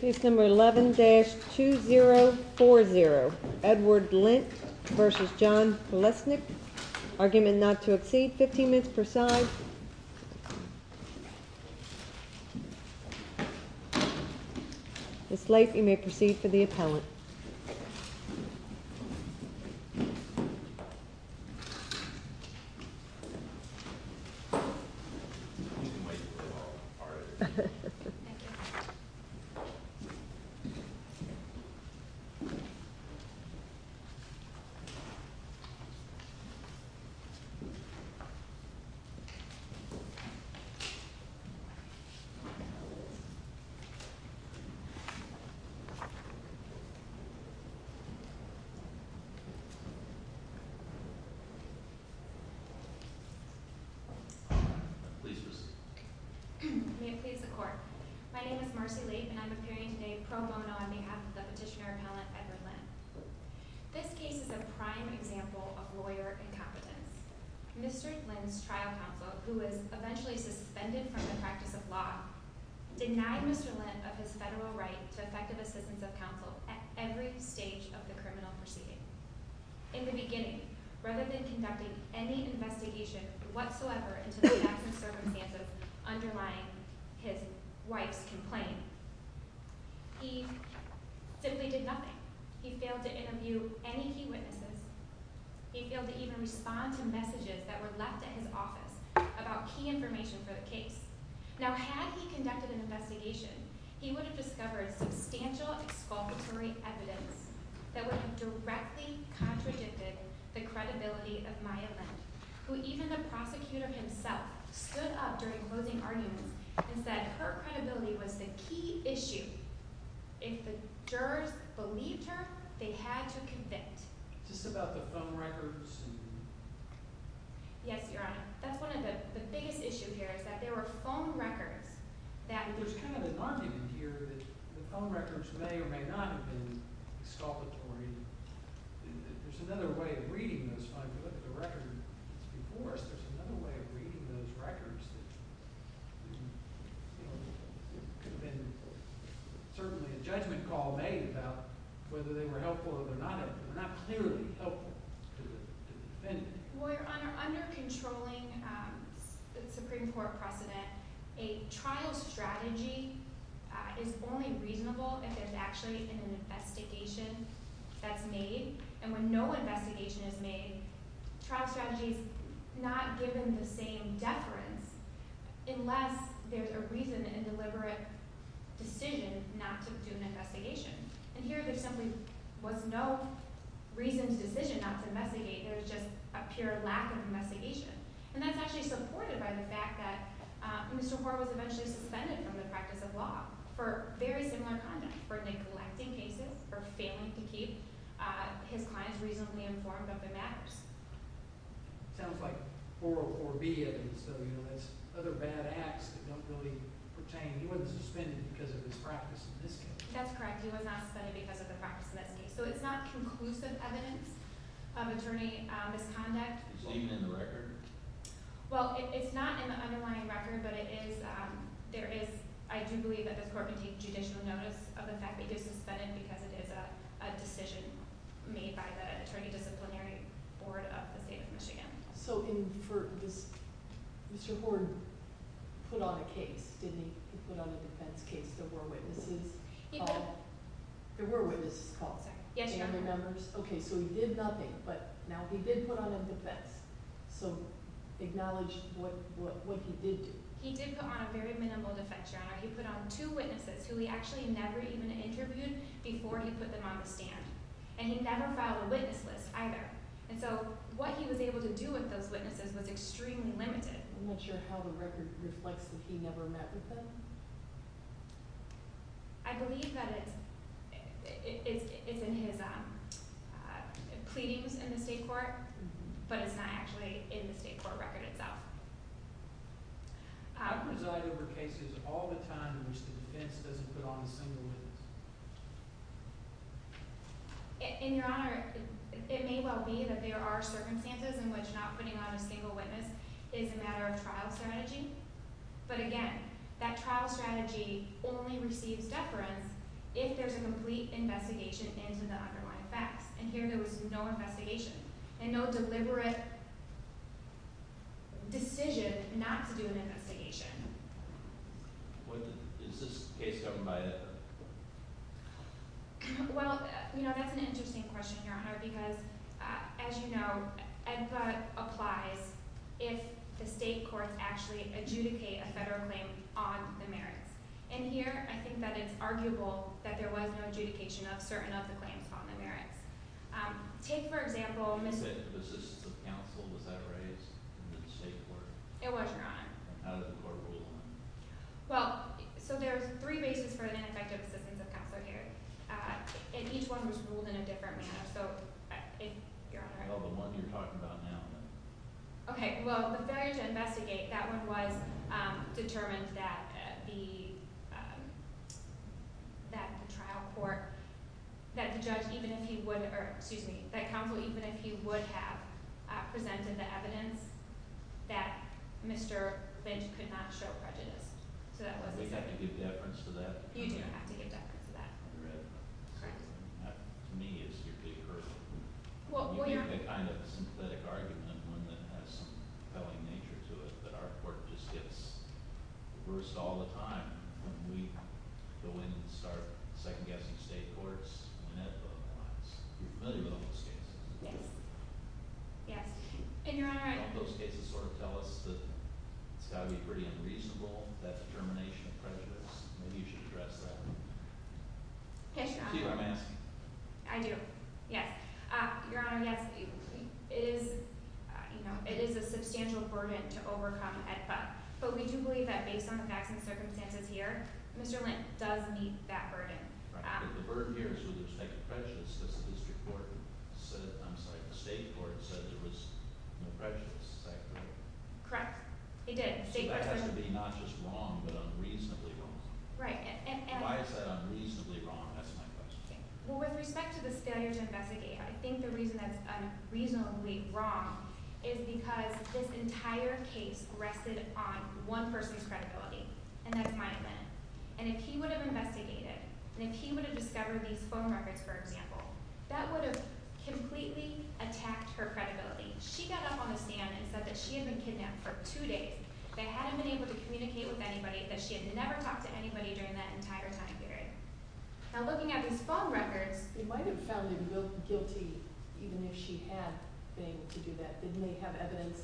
11-2040. Edward Lint versus John Lesnick. Argument not to exceed 15 minutes per side. Ms. Late, you may proceed for the appellant. Thank you. Please proceed. May it please the court. My name is Marcy Late, and I'm appearing today pro bono on behalf of the petitioner appellant, Edward Lint. This case is a prime example of lawyer incompetence. Mr. Lint's trial counsel, who was eventually suspended from the practice of law, denied Mr. Lint of his federal right to effective assistance of counsel at every trial. In the beginning, rather than conducting any investigation whatsoever into the facts and circumstances underlying his wife's complaint, he simply did nothing. He failed to interview any key witnesses. He failed to even respond to messages that were left at his office about key information for the case. Now, had he conducted an investigation, he would have discovered substantial self-exculpatory evidence that would have directly contradicted the credibility of Maya Lint, who even the prosecutor himself stood up during closing arguments and said her credibility was the key issue. If the jurors believed her, they had to convict. Is this about the phone records? Yes, Your Honor. That's one of the biggest issues here, is that there were phone records that And there's kind of an argument here that the phone records may or may not have been exculpatory. There's another way of reading this. If you look at the records before us, there's another way of reading those records that could have been certainly a judgment call made about whether they were helpful or they're not helpful. They're not clearly helpful to the defendant. Well, Your Honor, under controlling the Supreme Court precedent, a trial strategy is only reasonable if it's actually an investigation that's made. And when no investigation is made, trial strategy is not given the same deference unless there's a reason and deliberate decision not to do an investigation. And here there simply was no reasoned decision not to investigate. There was just a pure lack of investigation. And that's actually supported by the fact that Mr. Hoare was eventually suspended from the practice of law for very similar conduct, for neglecting cases, for failing to keep his clients reasonably informed of the matters. Sounds like 404B evidence, though. You know, that's other bad acts that don't really pertain. He wasn't suspended because of his practice in this case. That's correct. He was not suspended because of the practice in this case. So it's not conclusive evidence of attorney misconduct. Is it even in the record? Well, it's not in the underlying record, but I do believe that the court can take judicial notice of the fact that he was suspended because it is a decision made by the Attorney Disciplinary Board of the State of Michigan. So Mr. Hoare put on a case, didn't he? He put on a defense case. There were witnesses. There were witnesses called. Family members. Yes, Your Honor. Okay, so he did nothing, but now he did put on a defense. So acknowledge what he did do. He did put on a very minimal defense, Your Honor. He put on two witnesses who he actually never even interviewed before he put them on the stand. And he never filed a witness list either. And so what he was able to do with those witnesses was extremely limited. I'm not sure how the record reflects that he never met with them. I believe that it's in his pleadings in the state court, but it's not actually in the state court record itself. I preside over cases all the time in which the defense doesn't put on a single witness. And Your Honor, it may well be that there are circumstances in which not putting on a single witness is a matter of trial strategy. But again, that trial strategy only receives deference if there's a complete investigation into the underlying facts. And here there was no investigation and no deliberate decision not to do an investigation. Is this case governed by EDPA? Well, you know, that's an interesting question, Your Honor, because as you know, EDPA applies if the state courts actually adjudicate a federal claim on the merits. And here I think that it's arguable that there was no adjudication of certain of the claims on the merits. Take, for example, The assistance of counsel, was that raised in the state court? It was, Your Honor. How did the court rule on it? Well, so there's three bases for an ineffective assistance of counsel here, and each one was ruled in a different manner. So, Your Honor, Okay, well, the failure to investigate, that one was that the trial court, that the judge, even if he would, or excuse me, that counsel, even if he would have presented the evidence, that Mr. Lynch could not show prejudice. So that wasn't said. We have to give deference to that? You do have to give deference to that. That, to me, is your big hurdle. You make a kind of sympathetic argument one that has compelling nature to it, but our court just gets reversed all the time when we go in and start second-guessing state courts when EDFA applies. You're familiar with those cases? Yes. Yes. And, Your Honor, I Don't those cases sort of tell us that it's got to be pretty unreasonable, that determination of prejudice? Maybe you should address that. Yes, Your Honor. Do you see what I'm asking? I do. Yes. Your Honor, yes. It is, you know, it is a substantial burden to overcome at EDFA, but we do believe that based on the facts and circumstances here, Mr. Lynch does meet that burden. But the burden here is with respect to prejudice, because the district court said, I'm sorry, the state court said there was no prejudice, is that correct? Correct. It did. So that has to be not just wrong, but unreasonably wrong. Why is that unreasonably wrong, that's my question. Well, with respect to this failure to investigate, I think the reason that's unreasonably wrong is because this entire case rested on one person's credibility, and that's Maya Lynn. And if he would have investigated and if he would have discovered these phone records, for example, that would have completely attacked her credibility. She got up on the stand and said that she had been kidnapped for two days, that hadn't been able to communicate with anybody, that she had never talked to anybody during that entire time period. Now, looking at these phone records... You might have found her guilty, even if she had been able to do that. Didn't they have evidence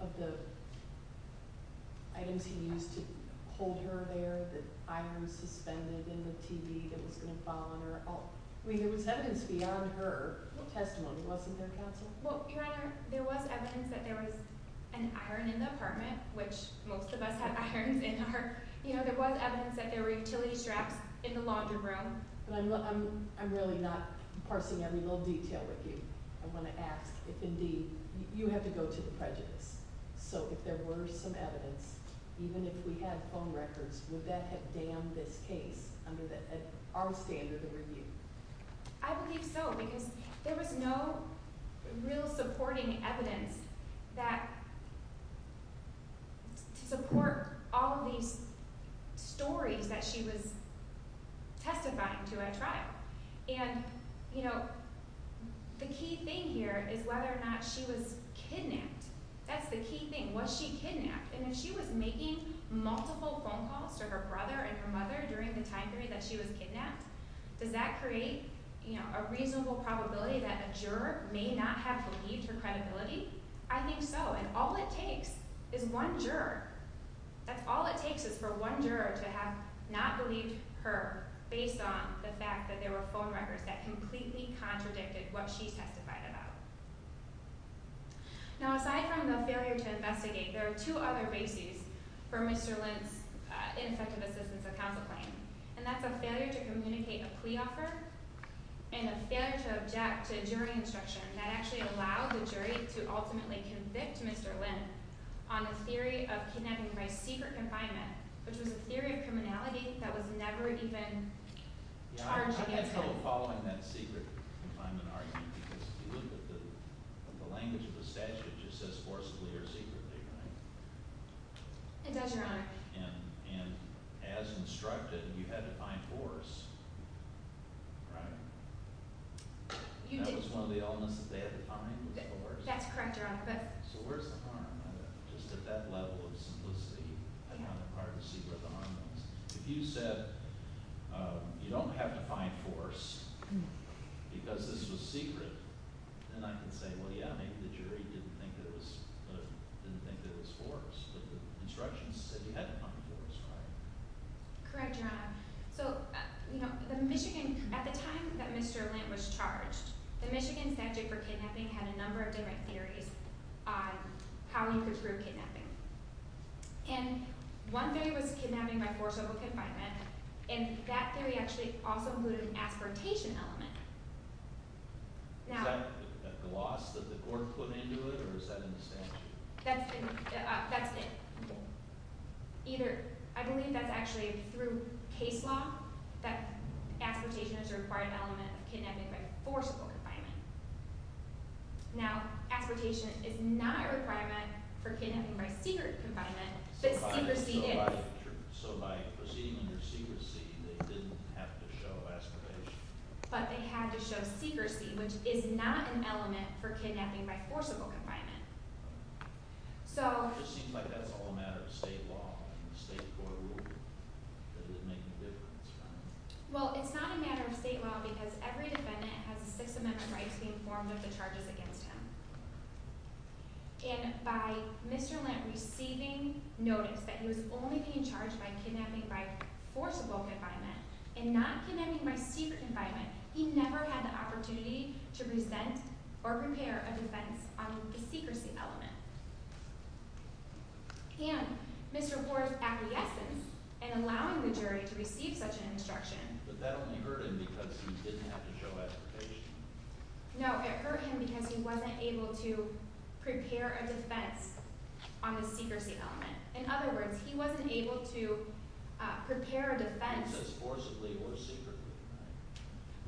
of the items he used to hold her there, the iron suspended in the TV that was going to fall on her? I mean, there was evidence beyond her testimony, wasn't there, Counsel? Well, Your Honor, there was evidence that there was an iron in the apartment, which most of us have irons in our... You know, there was evidence that there were utility straps in the laundry room. I'm really not parsing every little detail with you. I want to ask if, indeed, you have to go to the prejudice. So, if there were some evidence, even if we had phone records, would that have damned this case under our standard of review? I believe so, because there was no real supporting evidence that to support all of these stories that she was testifying to at trial. The key thing here is whether or not she was kidnapped. That's the key thing. Was she kidnapped? And if she was making multiple phone calls to her brother and her mother during the time period that she was kidnapped, does that create a reasonable probability that a juror may not have believed her credibility? I think so. And all it takes is one juror. That's all it takes is for one juror to have not believed her based on the fact that there were phone records that completely contradicted what she testified about. Now, aside from the failure to investigate, there are two other bases for Mr. Lindt's ineffective assistance of counsel claim, and that's a failure to communicate a plea offer and a failure to object to jury instruction that actually allowed the jury to ultimately convict Mr. Lindt on the theory of kidnapping by secret confinement, which was a theory of criminality that was never even charged against him. Yeah, I had trouble following that secret confinement argument because if you look at the language of the statute it just says forcibly or secretly, right? It does, Your Honor. And as instructed, you had to find Horace, right? That was one of the only ones that they had to find was Horace? That's correct, Your Honor. So where's the harm in it? Just at that level of simplicity, I don't have to see where the harm is. If you said you don't have to find Horace because this was secret, then I can say, well, yeah, maybe the jury didn't think there was Horace, but the instructions said you had to find Horace, right? Correct, Your Honor. So, you know, the Michigan at the time that Mr. Lindt was charged, the Michigan statute for kidnapping had a number of different theories on how you could prove kidnapping. And one theory was kidnapping by forcible confinement and that theory actually also included an aspiratation element. Is that a gloss that the court put into it or is that in the statute? I believe that's actually through case law that aspiratation is required element of kidnapping by Now, aspiratation is not a requirement for kidnapping by secret confinement, but secrecy is. So by proceeding under secrecy, they didn't have to show aspiration. But they had to show secrecy, which is not an element for kidnapping by forcible confinement. It just seems like that's all a matter of state law and state court rule. It doesn't make any difference. Well, it's not a matter of state law because every defendant has six amendment rights being formed of the charges against him. And by Mr. Lindt receiving notice that he was only being charged by kidnapping by forcible confinement and not kidnapping by secret confinement, he never had the opportunity to present or prepare a defense on the secrecy element. And Mr. Ford's acquiescence in allowing the jury to receive such an instruction but that only hurt him because he didn't have to show aspiration. No, it hurt him because he wasn't able to prepare a defense on the secrecy element. In other words, he wasn't able to prepare a defense as forcibly or secretly.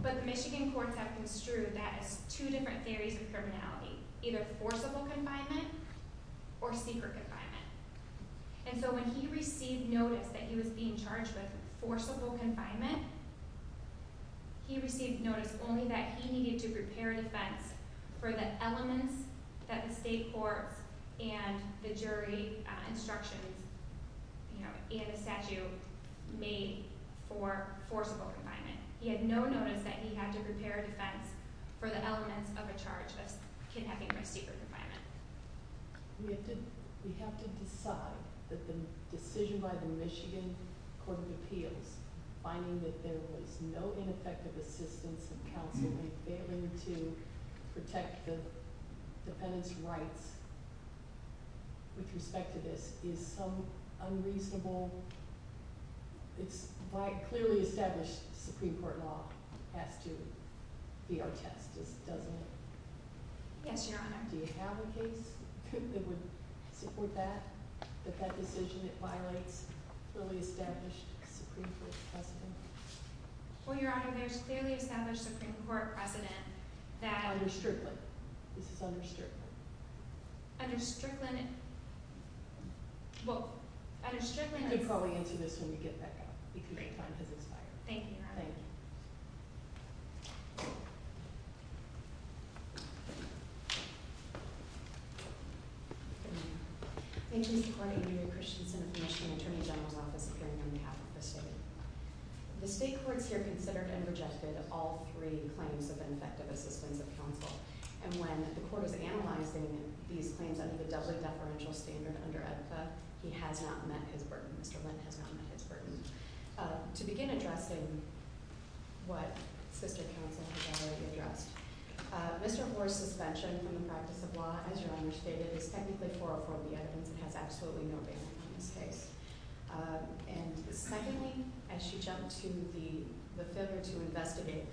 But the Michigan courts have construed that as two different theories of criminality, either forcible confinement or secret confinement. And so when he received notice that he was being charged with forcible confinement, he received notice only that he needed to prepare a defense for the elements that the state courts and the jury instructions and the statute made for forcible confinement. He had no notice that he had to prepare a defense for the elements of a charge of kidnapping by secret confinement. We have to decide that the decision by the Michigan Court of Appeals, finding that there was no ineffective assistance of counsel in failing to protect the defendant's rights with respect to this is some unreasonable it's clearly established Supreme Court law has to be our test, doesn't it? Yes, Your Honor. Do you have a case that would support that? That that decision violates clearly established Supreme Court precedent? Well, Your Honor, there's clearly established Supreme Court precedent that... Under Strickland. This is under Strickland. Under Strickland... You can probably answer this when we get back up. Thank you, Your Honor. Thank you. Thank you. Thank you, Mr. Court. Andrea Christensen of the Michigan Attorney General's Office appearing on behalf of the state. The state courts here considered and rejected all three claims of ineffective assistance of counsel. And when the court was analyzing these claims under the doubly deferential standard under EBFA, he has not met his burden. Mr. Lynn has not met his burden. To begin addressing what sister counsel has already addressed, Mr. Orr's suspension from the practice of law, as Your Honor stated, is technically 404B evidence and has absolutely no bearing on this case. And secondly, as she jumped to the filter to investigate,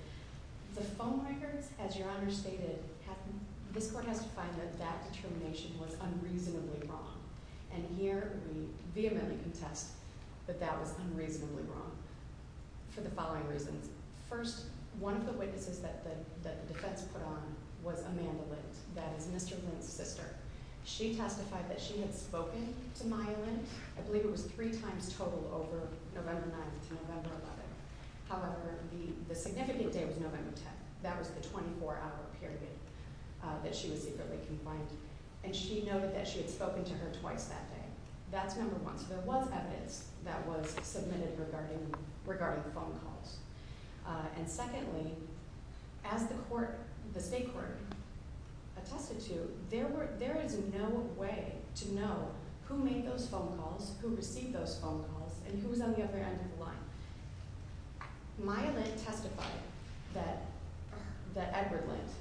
the phone records, as Your Honor stated, this court has to find that that determination was unreasonably wrong. And here we vehemently contest that that was unreasonably wrong for the following reasons. First, one of the witnesses that the defense put on was Amanda Lindt. That is Mr. Lindt's sister. She testified that she had spoken to Maya Lindt, I believe it was three times total over November 9th to November 11th. However, the significant day was November 10th. That was the 24-hour period that she was secretly confined. And she noted that she had spoken to her twice that day. That's number one. So there was evidence that was submitted regarding phone calls. And secondly, as the state court attested to, there is no way to know who made those phone calls, who received those phone calls, and who was on the other end of the line. Maya Lindt testified that Edward Lindt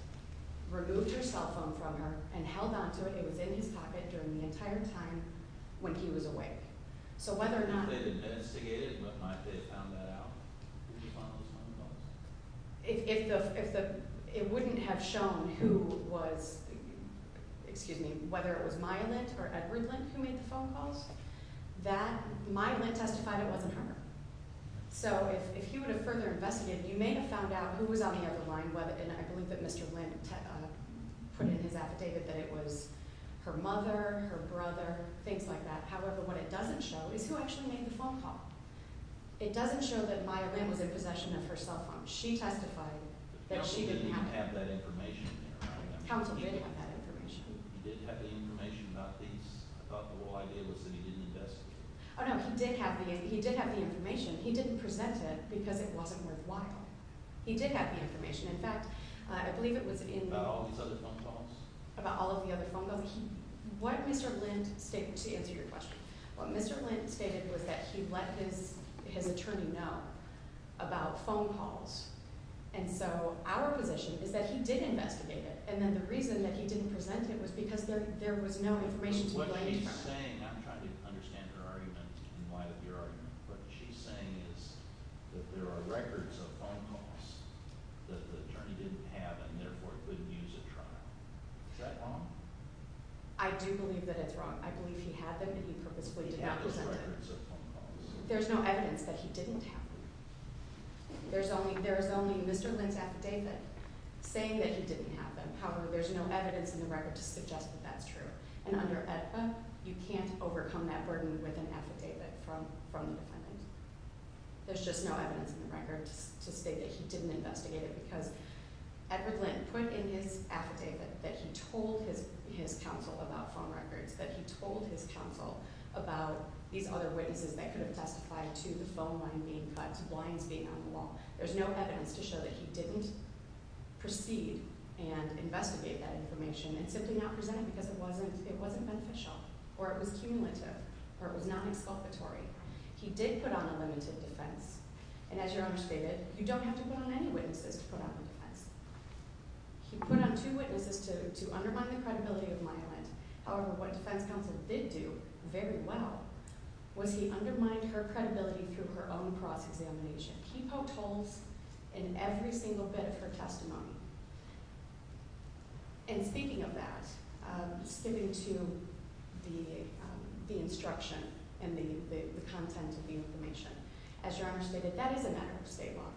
removed her cell phone from her and held onto it. It was in his pocket during the entire time when he was awake. So whether or not... If it wouldn't have shown who was, excuse me, whether it was Maya Lindt or Edward Lindt who made the phone calls, that Maya Lindt testified it wasn't her. So if he would have further investigated, you may have found out who was on the other line, and I believe that Mr. Lindt put in his affidavit that it was her mother, her brother, things like that. However, what it doesn't show is who actually made the phone call. It doesn't show that Maya Lindt was in possession of her cell phone. She testified that she didn't have it. Counsel did have that information. Oh no, he did have the information. He didn't present it because it wasn't worthwhile. He did have the information. In fact, I believe it was in... About all of the other phone calls. What Mr. Lindt stated was that he let his attorney know about phone calls, and so our position is that he did investigate it, and then the reason that he didn't present it was because there was no information to... What she's saying is that there are records of phone calls that the attorney didn't have and therefore couldn't use at trial. Is that wrong? I do believe that it's wrong. I believe he had them and he purposefully did not present them. There's no evidence that he didn't have them. There's only Mr. Lindt's affidavit saying that he didn't have them. However, there's no evidence in the record to suggest that that's true, and under AEDPA, you can't overcome that burden with an affidavit from the defendant. There's just no evidence in the record to state that he didn't investigate it because Edward Lindt put in his affidavit that he told his counsel about phone records, that he told his counsel about these other witnesses that could have testified to the phone line being cut to blinds being on the wall. There's no evidence to show that he didn't proceed and investigate that information and simply not present it because it wasn't beneficial or it was cumulative or it was not exculpatory. He did put on a limited defense, and as your Honor stated, you don't have to put on any witnesses to put on a defense. He put on two witnesses to undermine the credibility of Myland. However, what defense counsel did do very well was he undermined her credibility through her own cross-examination. He poked holes in every single bit of her testimony. And speaking of that, skipping to the instruction and the content of the information. As your Honor stated, that is a matter of state law.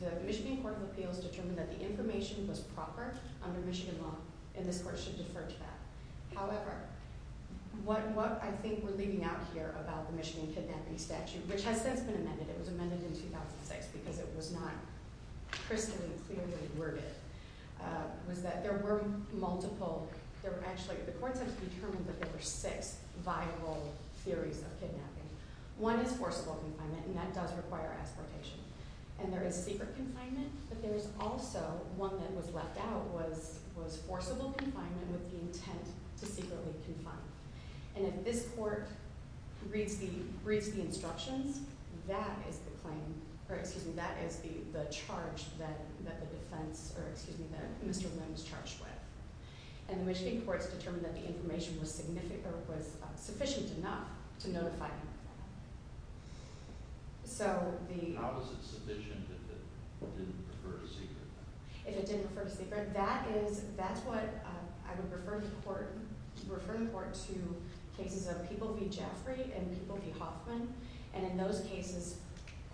The Michigan Court of Appeals determined that the information was proper under Michigan law, and this Court should defer to that. However, what I think we're leaving out here about the Michigan kidnapping statute, which has since been amended, it was amended in 2006 because it was not crystal and clearly worded, was that there were multiple, there were actually, the Court has determined that there were six viable theories of kidnapping. One is forcible confinement, and that does require exportation. And there is secret confinement, but there is also, one that was left out was forcible confinement with the intent to secretly confine. And if this Court reads the instructions, that is the charge that the defense, or excuse me, that Mr. Lynn was charged with. And the Michigan Courts determined that the information was sufficient enough to notify him of that. How was it sufficient if it didn't refer to secret? If it didn't refer to secret, that is, that's what I would refer the Court to cases of People v. Jaffray and People v. Hoffman, and in those cases,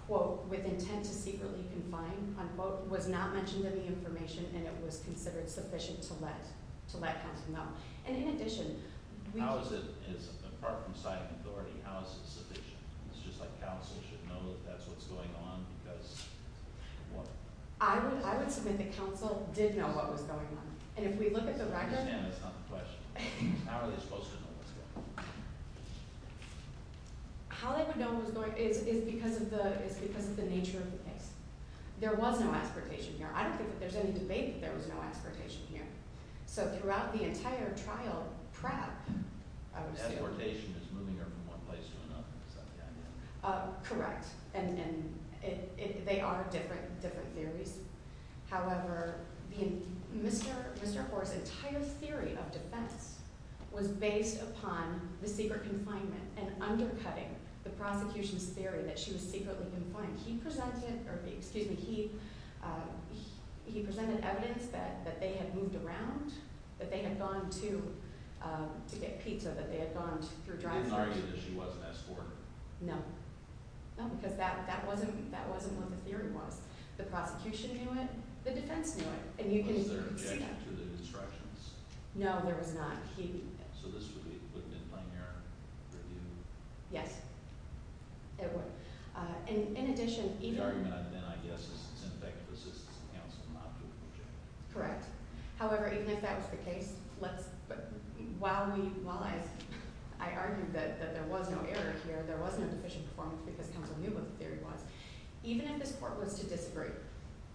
quote, with intent to secretly confine, unquote, was not mentioned in the information and it was considered sufficient to let counsel know. And in addition, How is it, apart from psych authority, how is it sufficient? It's just like counsel should know that that's what's going on because I would submit that counsel did know what was going on. And if we look at the record, I understand that's not the question. How are they supposed to know what's going on? How they would know what's going on is because of the nature of the case. There was no exportation here. I don't think that there's any debate that there was no exportation here. So throughout the entire trial prep... Exportation is moving her from one place to another. Is that the idea? Correct. And they are different theories. However, Mr. Hoare's entire theory of defense was based upon the secret confinement and undercutting the prosecution's theory that she was secretly confined. He presented evidence that they had moved around, that they had gone to to get pizza, that they had gone through drive-thru. He didn't argue that she was an escort? No. No, because that wasn't what the theory was. The prosecution knew it, the defense knew it. Was there objection to the instructions? No, there was not. So this would be a binary review? Yes. In addition... The argument then, I guess, is that it's an effective assistance to counsel not to object. Correct. However, even if that was the case, while I argued that there was no error here, there was no deficient performance because counsel knew what the theory was, even if this court was to disagree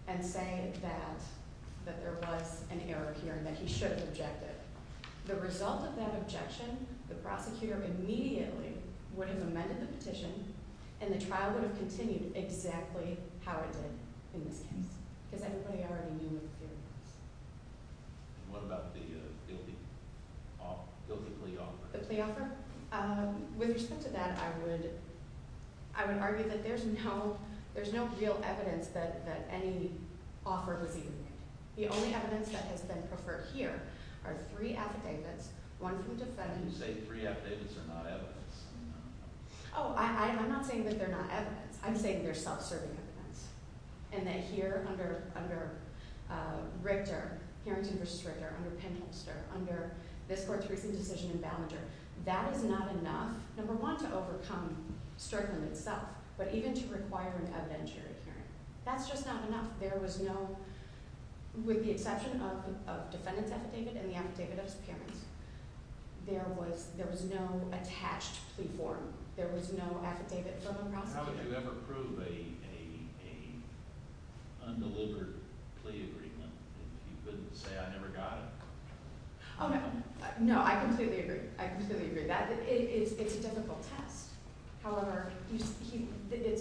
and say that there was an error here and that he should have objected, the result of that objection, the prosecutor immediately would have amended the petition and the trial would have continued exactly how it did in this case because everybody already knew what the theory was. And what about the guilty plea offer? The plea offer? With respect to that, I would argue that there's no real evidence that any offer was even made. The only evidence that has been preferred here are three affidavits, one from defendants... You say three affidavits are not evidence. Oh, I'm not saying that they're not evidence. I'm saying they're self-serving evidence. And that here, under Richter, Harrington v. Strickler, under Penholster, under this court's recent decision in Ballinger, that is not enough, number one, to overcome Strickland itself, but even to require an evidentiary hearing. That's just not enough. There was no, with the exception of defendants affidavit and the affidavit of his parents, there was no attached plea form. There was no affidavit from the prosecutor. How would you ever prove a undelivered plea agreement if you couldn't say, I never got it? No, I completely agree. I completely agree. It's a difficult test. However, it's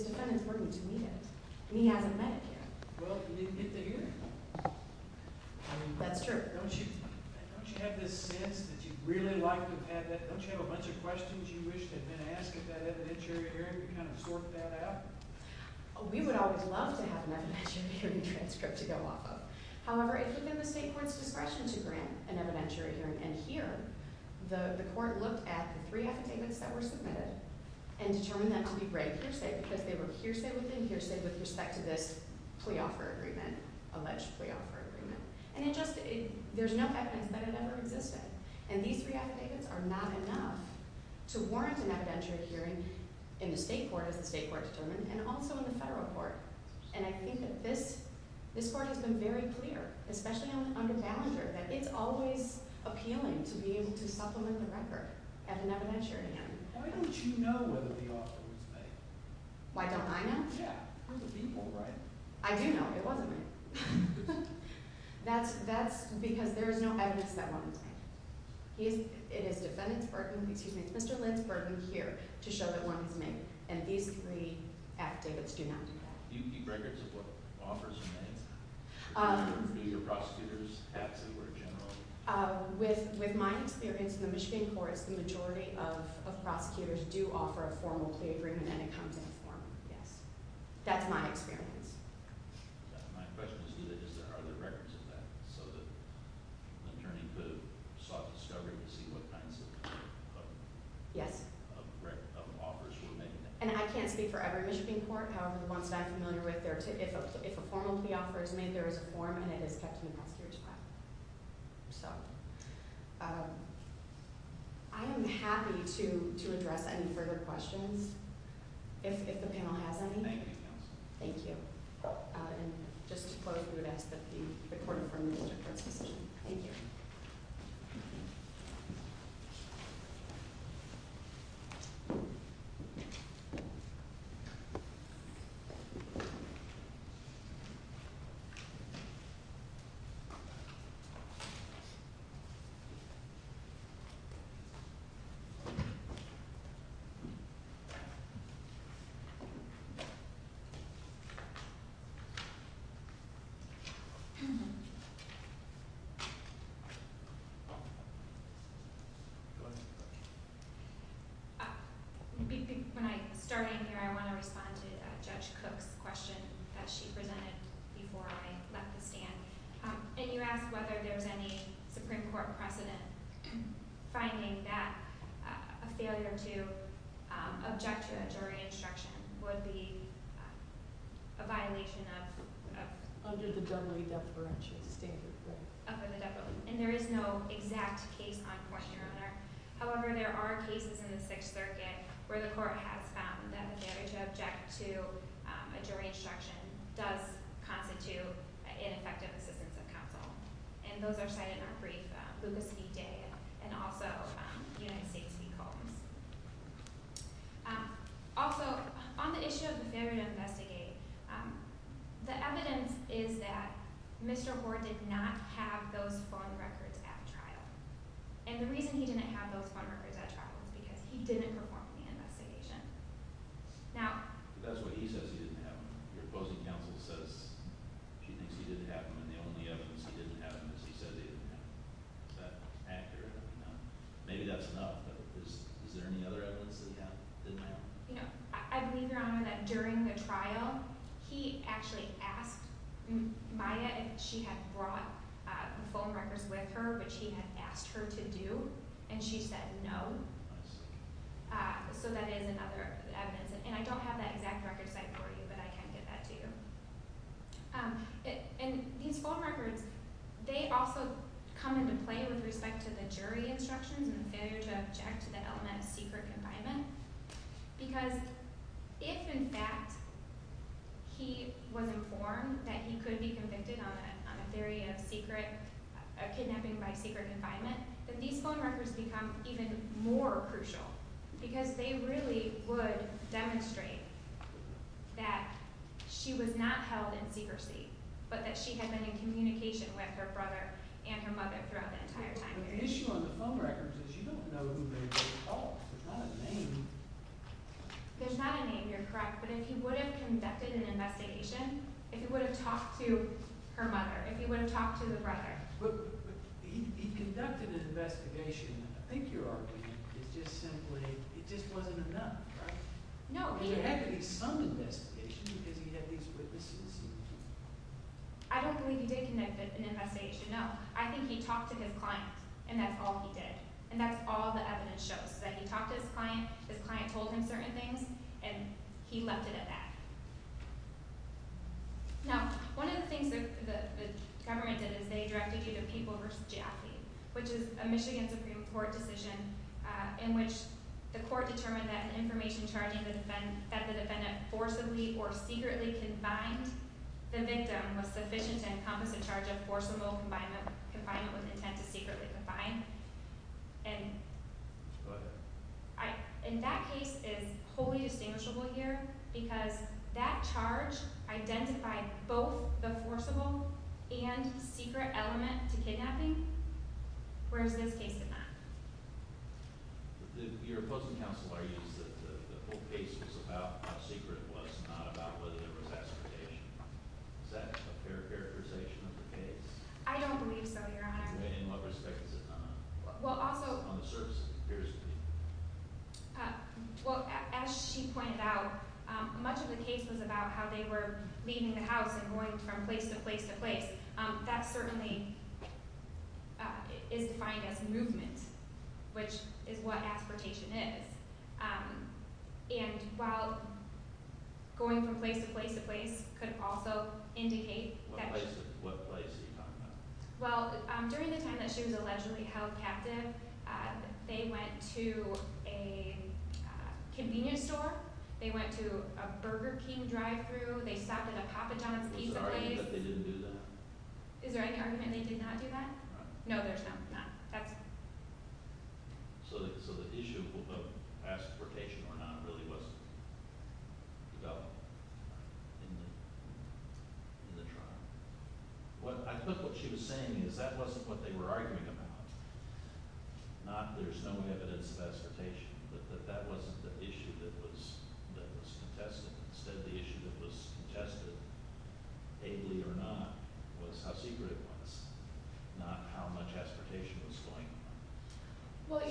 defendant's burden to meet it. And he hasn't met it yet. Well, you didn't get the hearing. That's true. Don't you have this sense that you'd really like to have that? Don't you have a bunch of questions you wish they'd been asked at that evidentiary hearing to kind of sort that out? We would always love to have an evidentiary hearing transcript to go off of. However, it had been the state court's discretion to grant an evidentiary hearing. And here, the court looked at the three affidavits that were submitted and determined that to be break hearsay because they were hearsay with respect to this plea offer agreement, alleged plea offer agreement. And there's no evidence that it ever existed. And these three affidavits are not enough to warrant an evidentiary hearing in the state court, as the state court determined, and also in the federal court. And I think that this court has been very clear, especially under Ballinger, that it's always appealing to be able to supplement the record at an evidentiary hearing. Why don't you know whether the offer was made? Why don't I know? Yeah. We're the people, right? I do know it wasn't made. That's because there is no evidence that one was made. It is Mr. Lentz-Bergman here to show that one was made. And these three affidavits do not do that. Do you keep records of what offers are made? Do your prosecutors have to, or generally? With my experience in the Michigan courts, the majority of a plea agreement, and it comes in a form, yes. That's my experience. My question is do they, is there other records of that? So that an attorney could have sought discovery to see what kinds of Yes. Of records, of offers were made. And I can't speak for every Michigan court, however the ones that I'm familiar with, if a formal plea offer is made, there is a form, and it is kept in the prosecutor's file. I am happy to if the panel has any. Thank you. And just to close, we would ask that the court affirmed Mr. Kurtz's decision. Thank you. Go ahead. When I started here, I want to respond to Judge Cook's question that she presented before I left the stand. And you asked whether there was any Supreme Court precedent finding that a failure to object to a jury instruction would be a violation of And there is no exact case on question, Your Honor. However, there are cases in the Sixth Circuit where the court has found that a failure to object to a jury instruction does constitute ineffective assistance of counsel. And those are cited in our brief, Lucas v. Day, and also United States v. Combs. Also, on the issue of the failure to investigate, the evidence is that Mr. Hoard did not have those phone records at trial. And the reason he didn't have those phone records at trial was because he didn't perform the investigation. Now... But that's what he says he didn't have them. Your opposing counsel says she thinks he didn't have them, and the only evidence he didn't have them is he says he didn't have them. Is that accurate? Maybe that's enough, but is there any other evidence that he had that he didn't have? I believe, Your Honor, that during the trial he actually asked Maya if she had brought the phone records with her, which he had asked her to do, and she said no. So that is another evidence. And I don't have that exact record cite for you, but I can get that to you. And these phone records, they also come into play with respect to the jury instructions and the failure to object to the element of secret confinement, because if in fact he was informed that he could be convicted on a theory of kidnapping by secret confinement, then these phone records become even more crucial because they really would demonstrate that she was not held in secrecy, but that she had been in communication with her brother and her mother throughout the entire time. But the issue on the phone records is you don't know who made those calls. There's not a name. There's not a name, you're correct, but if he would have conducted an investigation, if he would have talked to her mother, if he would have talked to the brother. But he conducted an investigation, I think your argument is just simply it just wasn't enough, right? No. Was there actually some investigation because he had these witnesses? I don't believe he did conduct an investigation, no. I think he talked to his client, and that's all he did. And that's all the evidence shows, that he talked to his client, his client told him certain things, and he left it at that. Now, one of the things the government did is they directed you to People v. Jaffee, which is a Michigan Supreme Court decision in which the court determined that an information charging that the defendant forcibly or secretly confined the victim was sufficient to encompass a charge of forcible confinement with intent to secretly confine. And that case is wholly distinguishable here because that charge identified both the forcible and secret element to kidnapping, whereas this case did not. Your opposing counsel argues that the whole case was about how secret it was, not about whether there was aspartation. Is that a fair characterization of the case? I don't believe so, Your Honor. In what respect is it not? Well, also... On the surface, it appears to be. Well, as she pointed out, much of the case was about how they were leaving the house and going from place to place to place. That certainly is defined as movement, which is what aspartation is. And while going from place to place to place could also indicate that... What place are you talking about? Well, during the time that she was allegedly held captive, they went to a convenience store, they went to a Burger King drive-thru, they stopped at a Papa John's pizza place. Is there any argument that they didn't do that? Is there any argument that they did not do that? No. No, there's not. So the issue of aspartation or not really wasn't developed in the trial. I think what she was saying is that wasn't what they were arguing about. There's no evidence of aspartation, but that wasn't the issue that was contested. Instead, the issue that was contested, ably or not, was how secret it was, not how much aspartation was going on.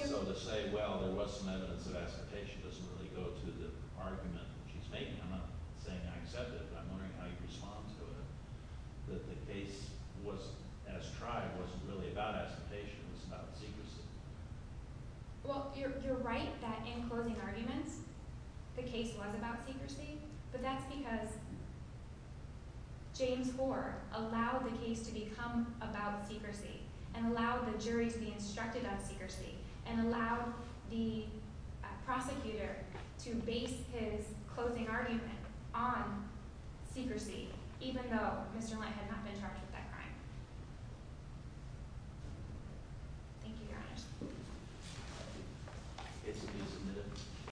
So to say, well, there was some evidence of aspartation doesn't really go to the argument that she's making. I'm not saying I accept it, but I'm wondering how you respond to it, that the case as tried wasn't really about aspartation, it was about secrecy. You're right that in closing arguments, the case was about secrecy, but that's because James Hoare allowed the case to become about secrecy, and allowed the jury to be instructed about secrecy, and allowed the prosecutor to base his closing argument on secrecy, even though Mr. Lyte had not been charged with that crime. Thank you, Your Honor.